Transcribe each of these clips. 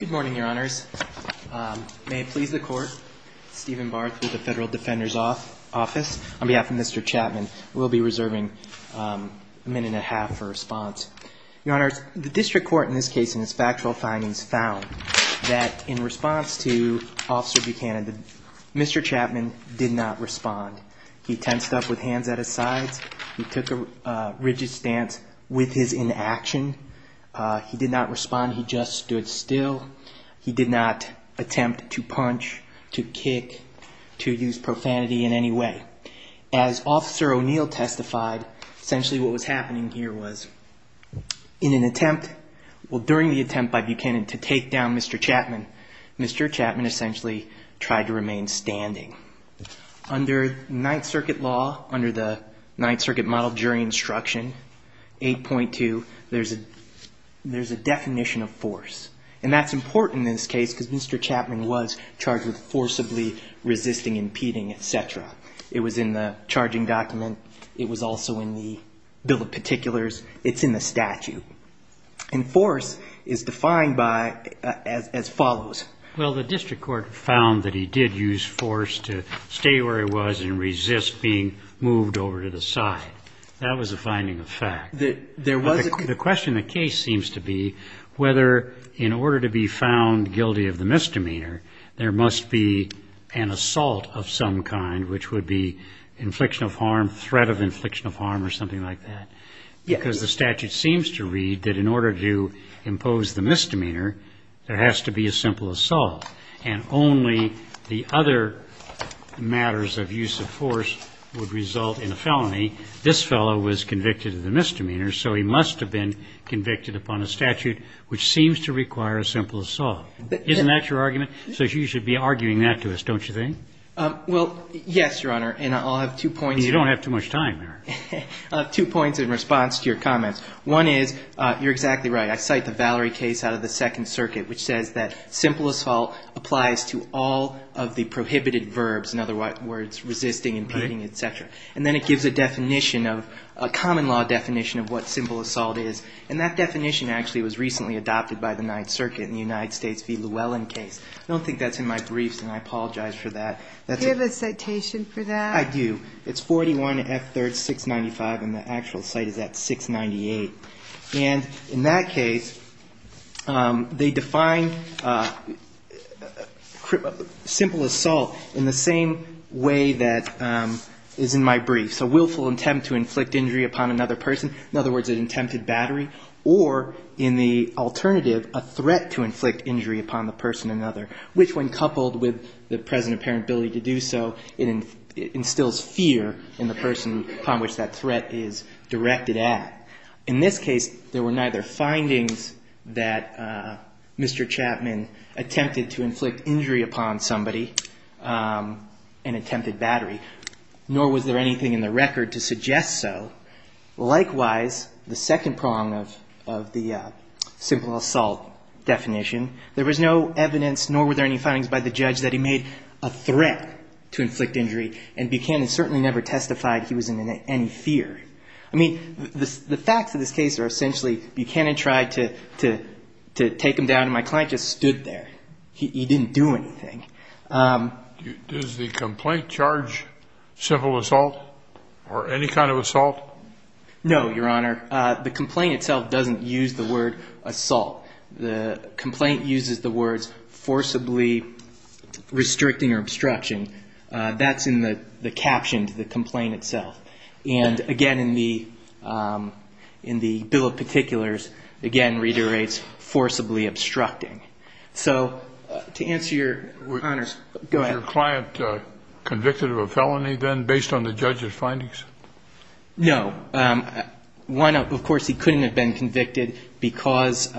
Good morning, your honors. May it please the court, Stephen Barth with the Federal Defender's Office. On behalf of Mr. Chapman, we'll be reserving a minute and a half for response. Your honors, the district court in this case and its factual findings found that in response to Officer Buchanan, Mr. Chapman did not respond. He tensed up with hands at his sides. He took a rigid stance with his inaction. He did not respond. He just stood still. He did not attempt to punch, to kick, to use profanity in any way. As Officer O'Neill testified, essentially what was happening here was in an attempt, well during the attempt by Buchanan to take down Mr. Chapman, Mr. Chapman essentially tried to remain standing. So under Ninth Circuit law, under the Ninth Circuit Model Jury Instruction 8.2, there's a definition of force. And that's important in this case because Mr. Chapman was charged with forcibly resisting, impeding, etc. It was in the charging document. It was also in the Bill of Particulars. It's in the statute. And force is defined by as follows. Well, the district court found that he did use force to stay where he was and resist being moved over to the side. That was a finding of fact. The question of the case seems to be whether in order to be found guilty of the misdemeanor, there must be an assault of some kind, which would be infliction of harm, threat of infliction of harm or something like that. Because the statute seems to read that in order to impose the misdemeanor, there has to be a simple assault. And only the other matters of use of force would result in a felony. This fellow was convicted of the misdemeanor, so he must have been convicted upon a statute which seems to require a simple assault. Isn't that your argument? So you should be arguing that to us, don't you think? Well, yes, Your Honor. And I'll have two points. You don't have too much time, Eric. I'll have two points in response to your comments. One is you're exactly right. I cite the Valerie case out of the Second Circuit, which says that simple assault applies to all of the prohibited verbs, in other words, resisting, impeding, et cetera. And then it gives a definition of a common law definition of what simple assault is. And that definition actually was recently adopted by the Ninth Circuit in the United States v. Llewellyn case. I don't think that's in my briefs, and I apologize for that. Do you have a citation for that? I do. It's 41 F3rd 695, and the actual cite is at 698. And in that case, they define simple assault in the same way that is in my brief. So willful attempt to inflict injury upon another person, in other words, an attempted battery, or in the alternative, a threat to inflict injury upon the person another, which when coupled with the present apparent ability to do so, it instills fear in the person upon which that threat is directed at. In this case, there were neither findings that Mr. Chapman attempted to inflict injury upon somebody, an attempted battery, nor was there anything in the record to suggest so. Likewise, the second prong of the simple assault definition, there was no evidence nor were there any findings by the judge that he made a threat to inflict injury, and Buchanan certainly never testified he was in any fear. I mean, the facts of this case are essentially Buchanan tried to take him down, and my client just stood there. He didn't do anything. Does the complaint charge simple assault or any kind of assault? No, Your Honor. The complaint itself doesn't use the word assault. The complaint uses the words forcibly restricting or obstruction. That's in the caption to the complaint itself. And, again, in the bill of particulars, again, reiterates forcibly obstructing. So to answer your, Your Honor, go ahead. Was your client convicted of a felony then based on the judge's findings? No. One, of course, he couldn't have been convicted because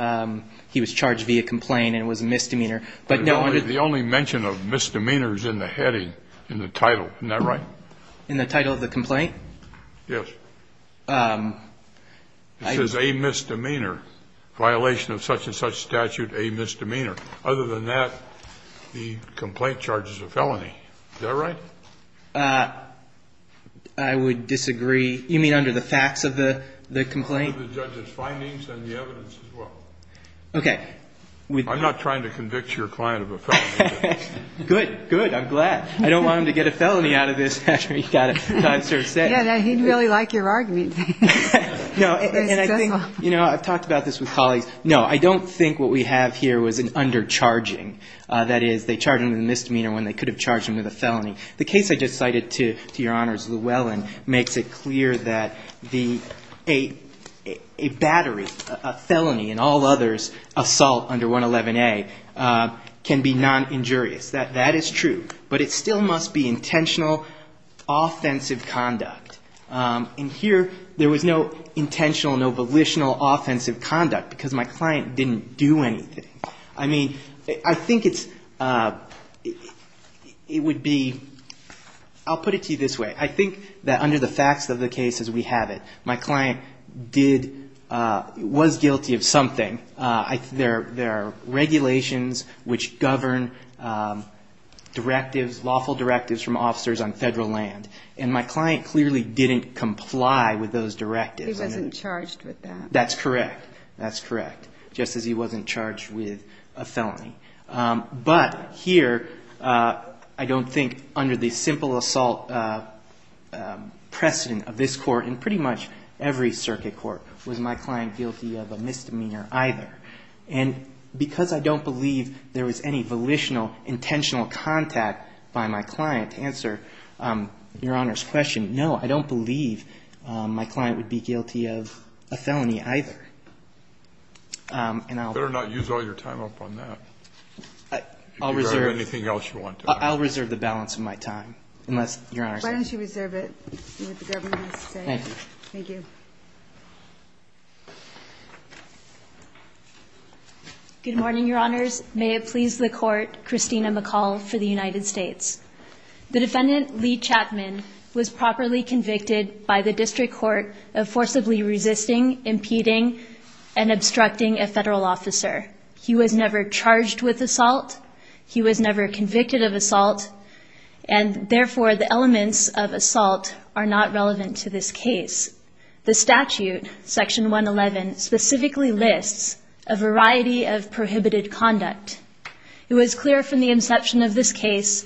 he was charged via complaint and it was a misdemeanor. The only mention of misdemeanor is in the heading, in the title. Isn't that right? In the title of the complaint? Yes. It says a misdemeanor. Violation of such and such statute, a misdemeanor. Other than that, the complaint charges a felony. Is that right? I would disagree. You mean under the facts of the complaint? Under the judge's findings and the evidence as well. Okay. I'm not trying to convict your client of a felony. Good. Good. I'm glad. I don't want him to get a felony out of this after he's got it sort of set. Yeah, he'd really like your argument. You know, I've talked about this with colleagues. No, I don't think what we have here was an undercharging. That is, they charged him with a misdemeanor when they could have charged him with a felony. The case I just cited, to your honors, Llewellyn, makes it clear that a battery, a felony, and all others, assault under 111A can be non-injurious. That is true. But it still must be intentional, offensive conduct. And here, there was no intentional, no volitional offensive conduct because my client didn't do anything. I mean, I think it's, it would be, I'll put it to you this way. I think that under the facts of the case as we have it, my client did, was guilty of something. There are regulations which govern directives, lawful directives from officers on federal land. And my client clearly didn't comply with those directives. He wasn't charged with that. That's correct. That's correct. Just as he wasn't charged with a felony. But here, I don't think under the simple assault precedent of this court, and pretty much every circuit court, was my client guilty of a misdemeanor either. And because I don't believe there was any volitional, intentional contact by my client to answer your honors' question, no, I don't believe my client would be guilty of a felony either. Better not use all your time up on that. If you have anything else you want to add. I'll reserve the balance of my time. Unless, your honors. Why don't you reserve it? You have the government to say. Thank you. Thank you. Good morning, your honors. May it please the court, Christina McCall for the United States. The defendant, Lee Chapman, was properly convicted by the district court of forcibly resisting, impeding, and obstructing a federal officer. He was never charged with assault. He was never convicted of assault. And therefore, the elements of assault are not relevant to this case. The statute, section 111, specifically lists a variety of prohibited conduct. It was clear from the inception of this case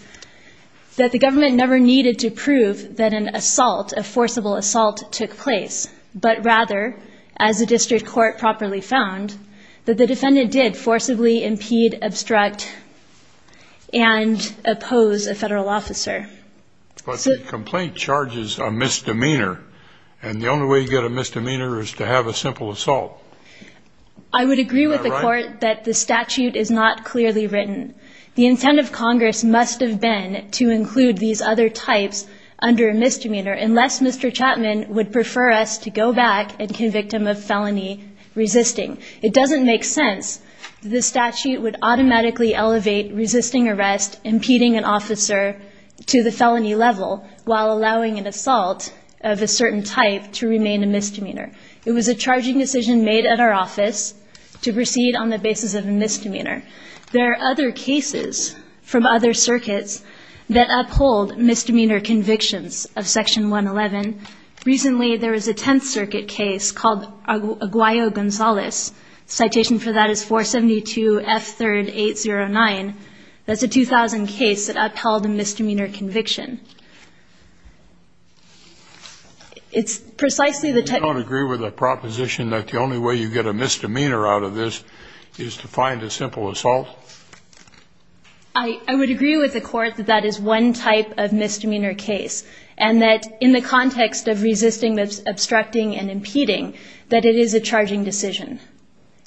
that the government never needed to prove that an assault, a forcible assault, took place. But rather, as the district court properly found, that the defendant did forcibly impede, obstruct, and oppose a federal officer. But the complaint charges a misdemeanor. And the only way you get a misdemeanor is to have a simple assault. I would agree with the court that the statute is not clearly written. The intent of Congress must have been to include these other types under a misdemeanor, unless Mr. Chapman would prefer us to go back and convict him of felony resisting. It doesn't make sense that the statute would automatically elevate resisting arrest, impeding an officer to the felony level, while allowing an assault of a certain type to remain a misdemeanor. It was a charging decision made at our office to proceed on the basis of a misdemeanor. There are other cases from other circuits that uphold misdemeanor convictions of section 111. Recently, there was a Tenth Circuit case called Aguayo-Gonzalez. Citation for that is 472F3809. That's a 2000 case that upheld a misdemeanor conviction. It's precisely the type... You don't agree with the proposition that the only way you get a misdemeanor out of this is to find a simple assault? I would agree with the court that that is one type of misdemeanor case, and that in the context of resisting, obstructing, and impeding, that it is a charging decision.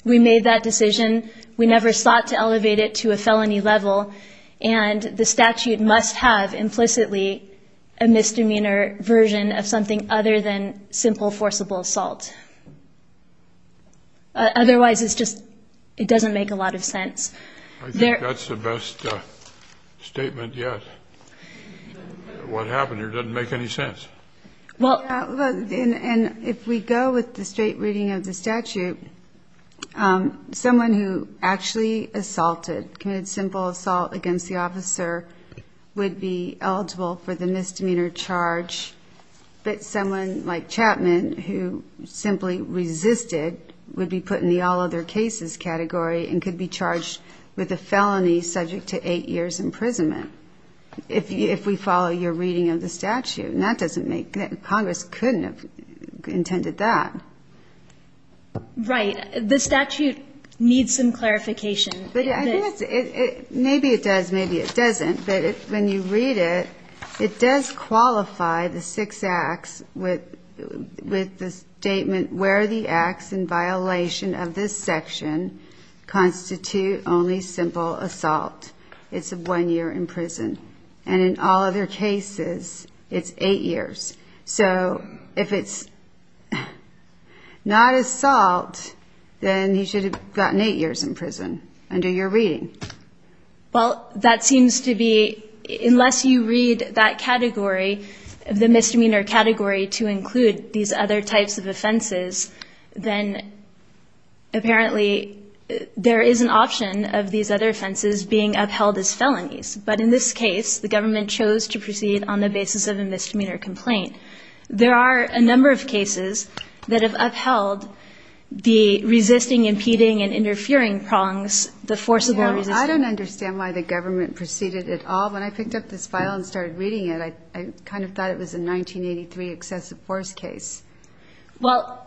We made that decision. We never sought to elevate it to a felony level, and the statute must have implicitly a misdemeanor version of something other than simple forcible assault. Otherwise, it's just it doesn't make a lot of sense. I think that's the best statement yet. What happened here doesn't make any sense. And if we go with the straight reading of the statute, someone who actually assaulted, committed simple assault against the officer, would be eligible for the misdemeanor charge. But someone like Chapman, who simply resisted, would be put in the all other cases category and could be charged with a felony subject to 8 years imprisonment. If we follow your reading of the statute. And that doesn't make, Congress couldn't have intended that. Right. The statute needs some clarification. Maybe it does, maybe it doesn't. But when you read it, it does qualify the six acts with the statement where the acts in violation of this section constitute only simple assault. It's a one year in prison. And in all other cases, it's eight years. So if it's not assault, then he should have gotten eight years in prison under your reading. Well, that seems to be, unless you read that category, the misdemeanor category to include these other types of offenses, then apparently there is an option of these other offenses being upheld as felonies. But in this case, the government chose to proceed on the basis of a misdemeanor complaint. There are a number of cases that have upheld the resisting, impeding and interfering prongs, the forcible resisting. I don't understand why the government proceeded at all. When I picked up this file and started reading it, I kind of thought it was a 1983 excessive force case. Well,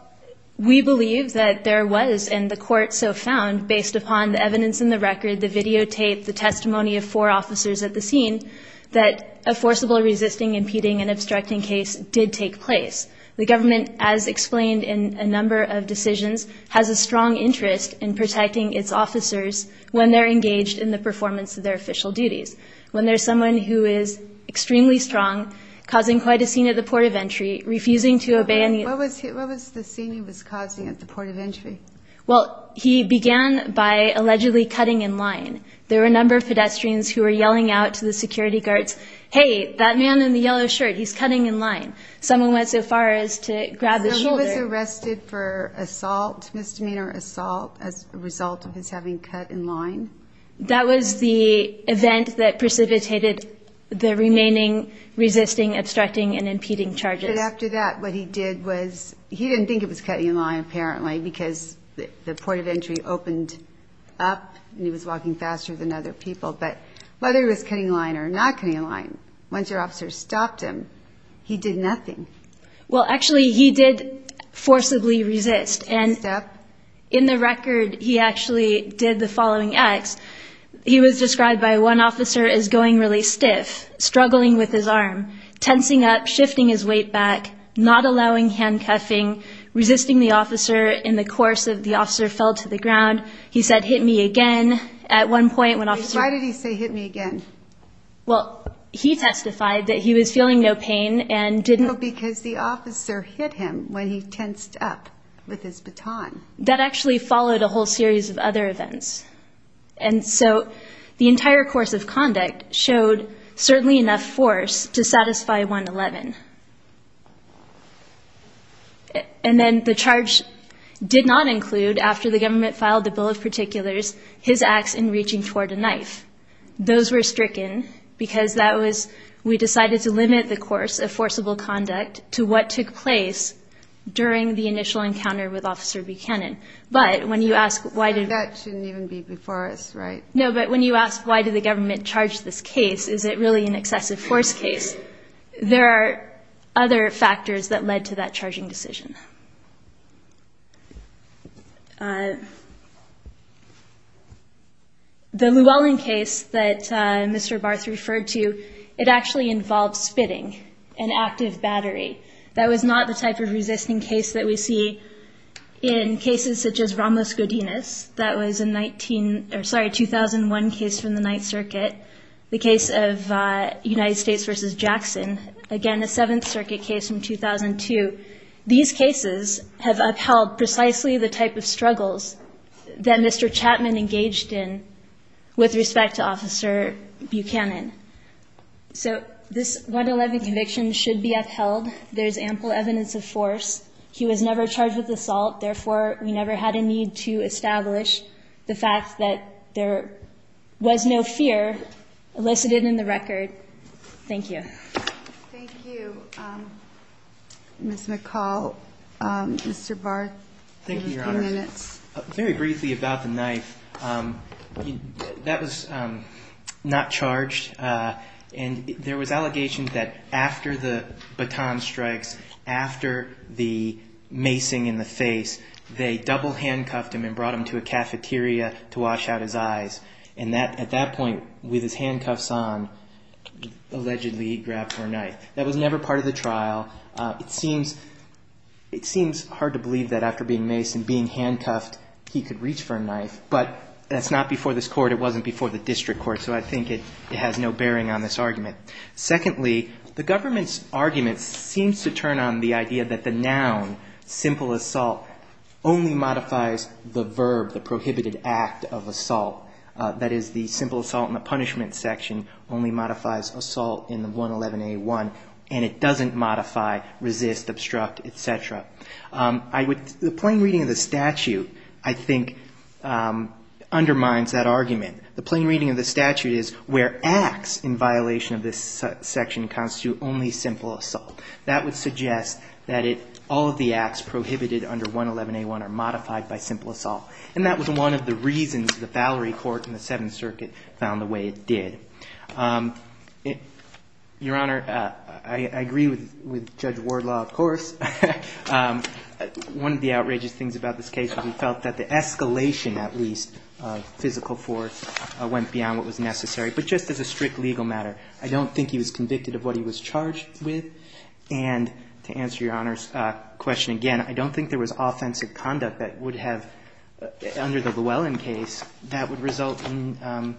we believe that there was, and the court so found, based upon the evidence in the record, the videotape, the testimony of four officers at the scene, that a forcible resisting, impeding and obstructing case did take place. The government, as explained in a number of decisions, has a strong interest in protecting its officers when they're engaged in the performance of their official duties. When there's someone who is extremely strong, causing quite a scene at the port of entry, refusing to obey any... What was the scene he was causing at the port of entry? Well, he began by allegedly cutting in line. There were a number of pedestrians who were yelling out to the security guards, hey, that man in the yellow shirt, he's cutting in line. Someone went so far as to grab the shoulder. So he was arrested for assault, misdemeanor assault, as a result of his having cut in line? That was the event that precipitated the remaining resisting, obstructing, and impeding charges. But after that, what he did was, he didn't think it was cutting in line, apparently, because the port of entry opened up, and he was walking faster than other people. But whether he was cutting in line or not cutting in line, once your officers stopped him, he did nothing. Well, actually, he did forcibly resist. He stopped? In the record, he actually did the following acts. He was described by one officer as going really stiff, struggling with his arm, tensing up, shifting his weight back, not allowing handcuffing, resisting the officer. In the course of the officer fell to the ground, he said, hit me again. At one point, one officer... Why did he say hit me again? Well, he testified that he was feeling no pain and didn't... That actually followed a whole series of other events. And so the entire course of conduct showed certainly enough force to satisfy 111. And then the charge did not include, after the government filed the bill of particulars, his acts in reaching toward a knife. Those were stricken because that was... We decided to limit the course of forcible conduct to what took place during the initial encounter with Officer Buchanan. But when you ask why did... That shouldn't even be before us, right? No, but when you ask why did the government charge this case, is it really an excessive force case? There are other factors that led to that charging decision. The Llewellyn case that Mr. Barth referred to, it actually involved spitting an active battery. That was not the type of resisting case that we see in cases such as Ramos-Godinez. That was a 19... Sorry, a 2001 case from the Ninth Circuit. The case of United States versus Jackson. Again, a Seventh Circuit case from 2002. These cases have upheld precisely the type of struggles that Mr. Chapman engaged in with respect to Officer Buchanan. So this 111 conviction should be upheld. There's ample evidence of force. He was never charged with assault. Therefore, we never had a need to establish the fact that there was no fear elicited in the record. Thank you. Thank you, Ms. McCall. Mr. Barth, you have a few minutes. Thank you, Your Honor. Very briefly about the knife. That was not charged. And there was allegations that after the baton strikes, after the macing in the face, they double handcuffed him and brought him to a cafeteria to wash out his eyes. And at that point, with his handcuffs on, allegedly he grabbed for a knife. That was never part of the trial. It seems hard to believe that after being maced and being handcuffed, he could reach for a knife. But that's not before this Court. It wasn't before the District Court, so I think it has no bearing on this argument. Secondly, the government's argument seems to turn on the idea that the noun, simple assault, only modifies the verb, the prohibited act of assault. That is, the simple assault in the punishment section only modifies assault in the 111A1, and it doesn't modify resist, obstruct, et cetera. The plain reading of the statute, I think, undermines that argument. The plain reading of the statute is where acts in violation of this section constitute only simple assault. That would suggest that all of the acts prohibited under 111A1 are modified by simple assault. And that was one of the reasons the Valerie Court in the Seventh Circuit found the way it did. Your Honor, I agree with Judge Wardlaw, of course. One of the outrageous things about this case was we felt that the escalation, at least, of physical force went beyond what was necessary. But just as a strict legal matter, I don't think he was convicted of what he was charged with. And to answer Your Honor's question again, I don't think there was offensive conduct that would have, under the Llewellyn case, that would result in, you know,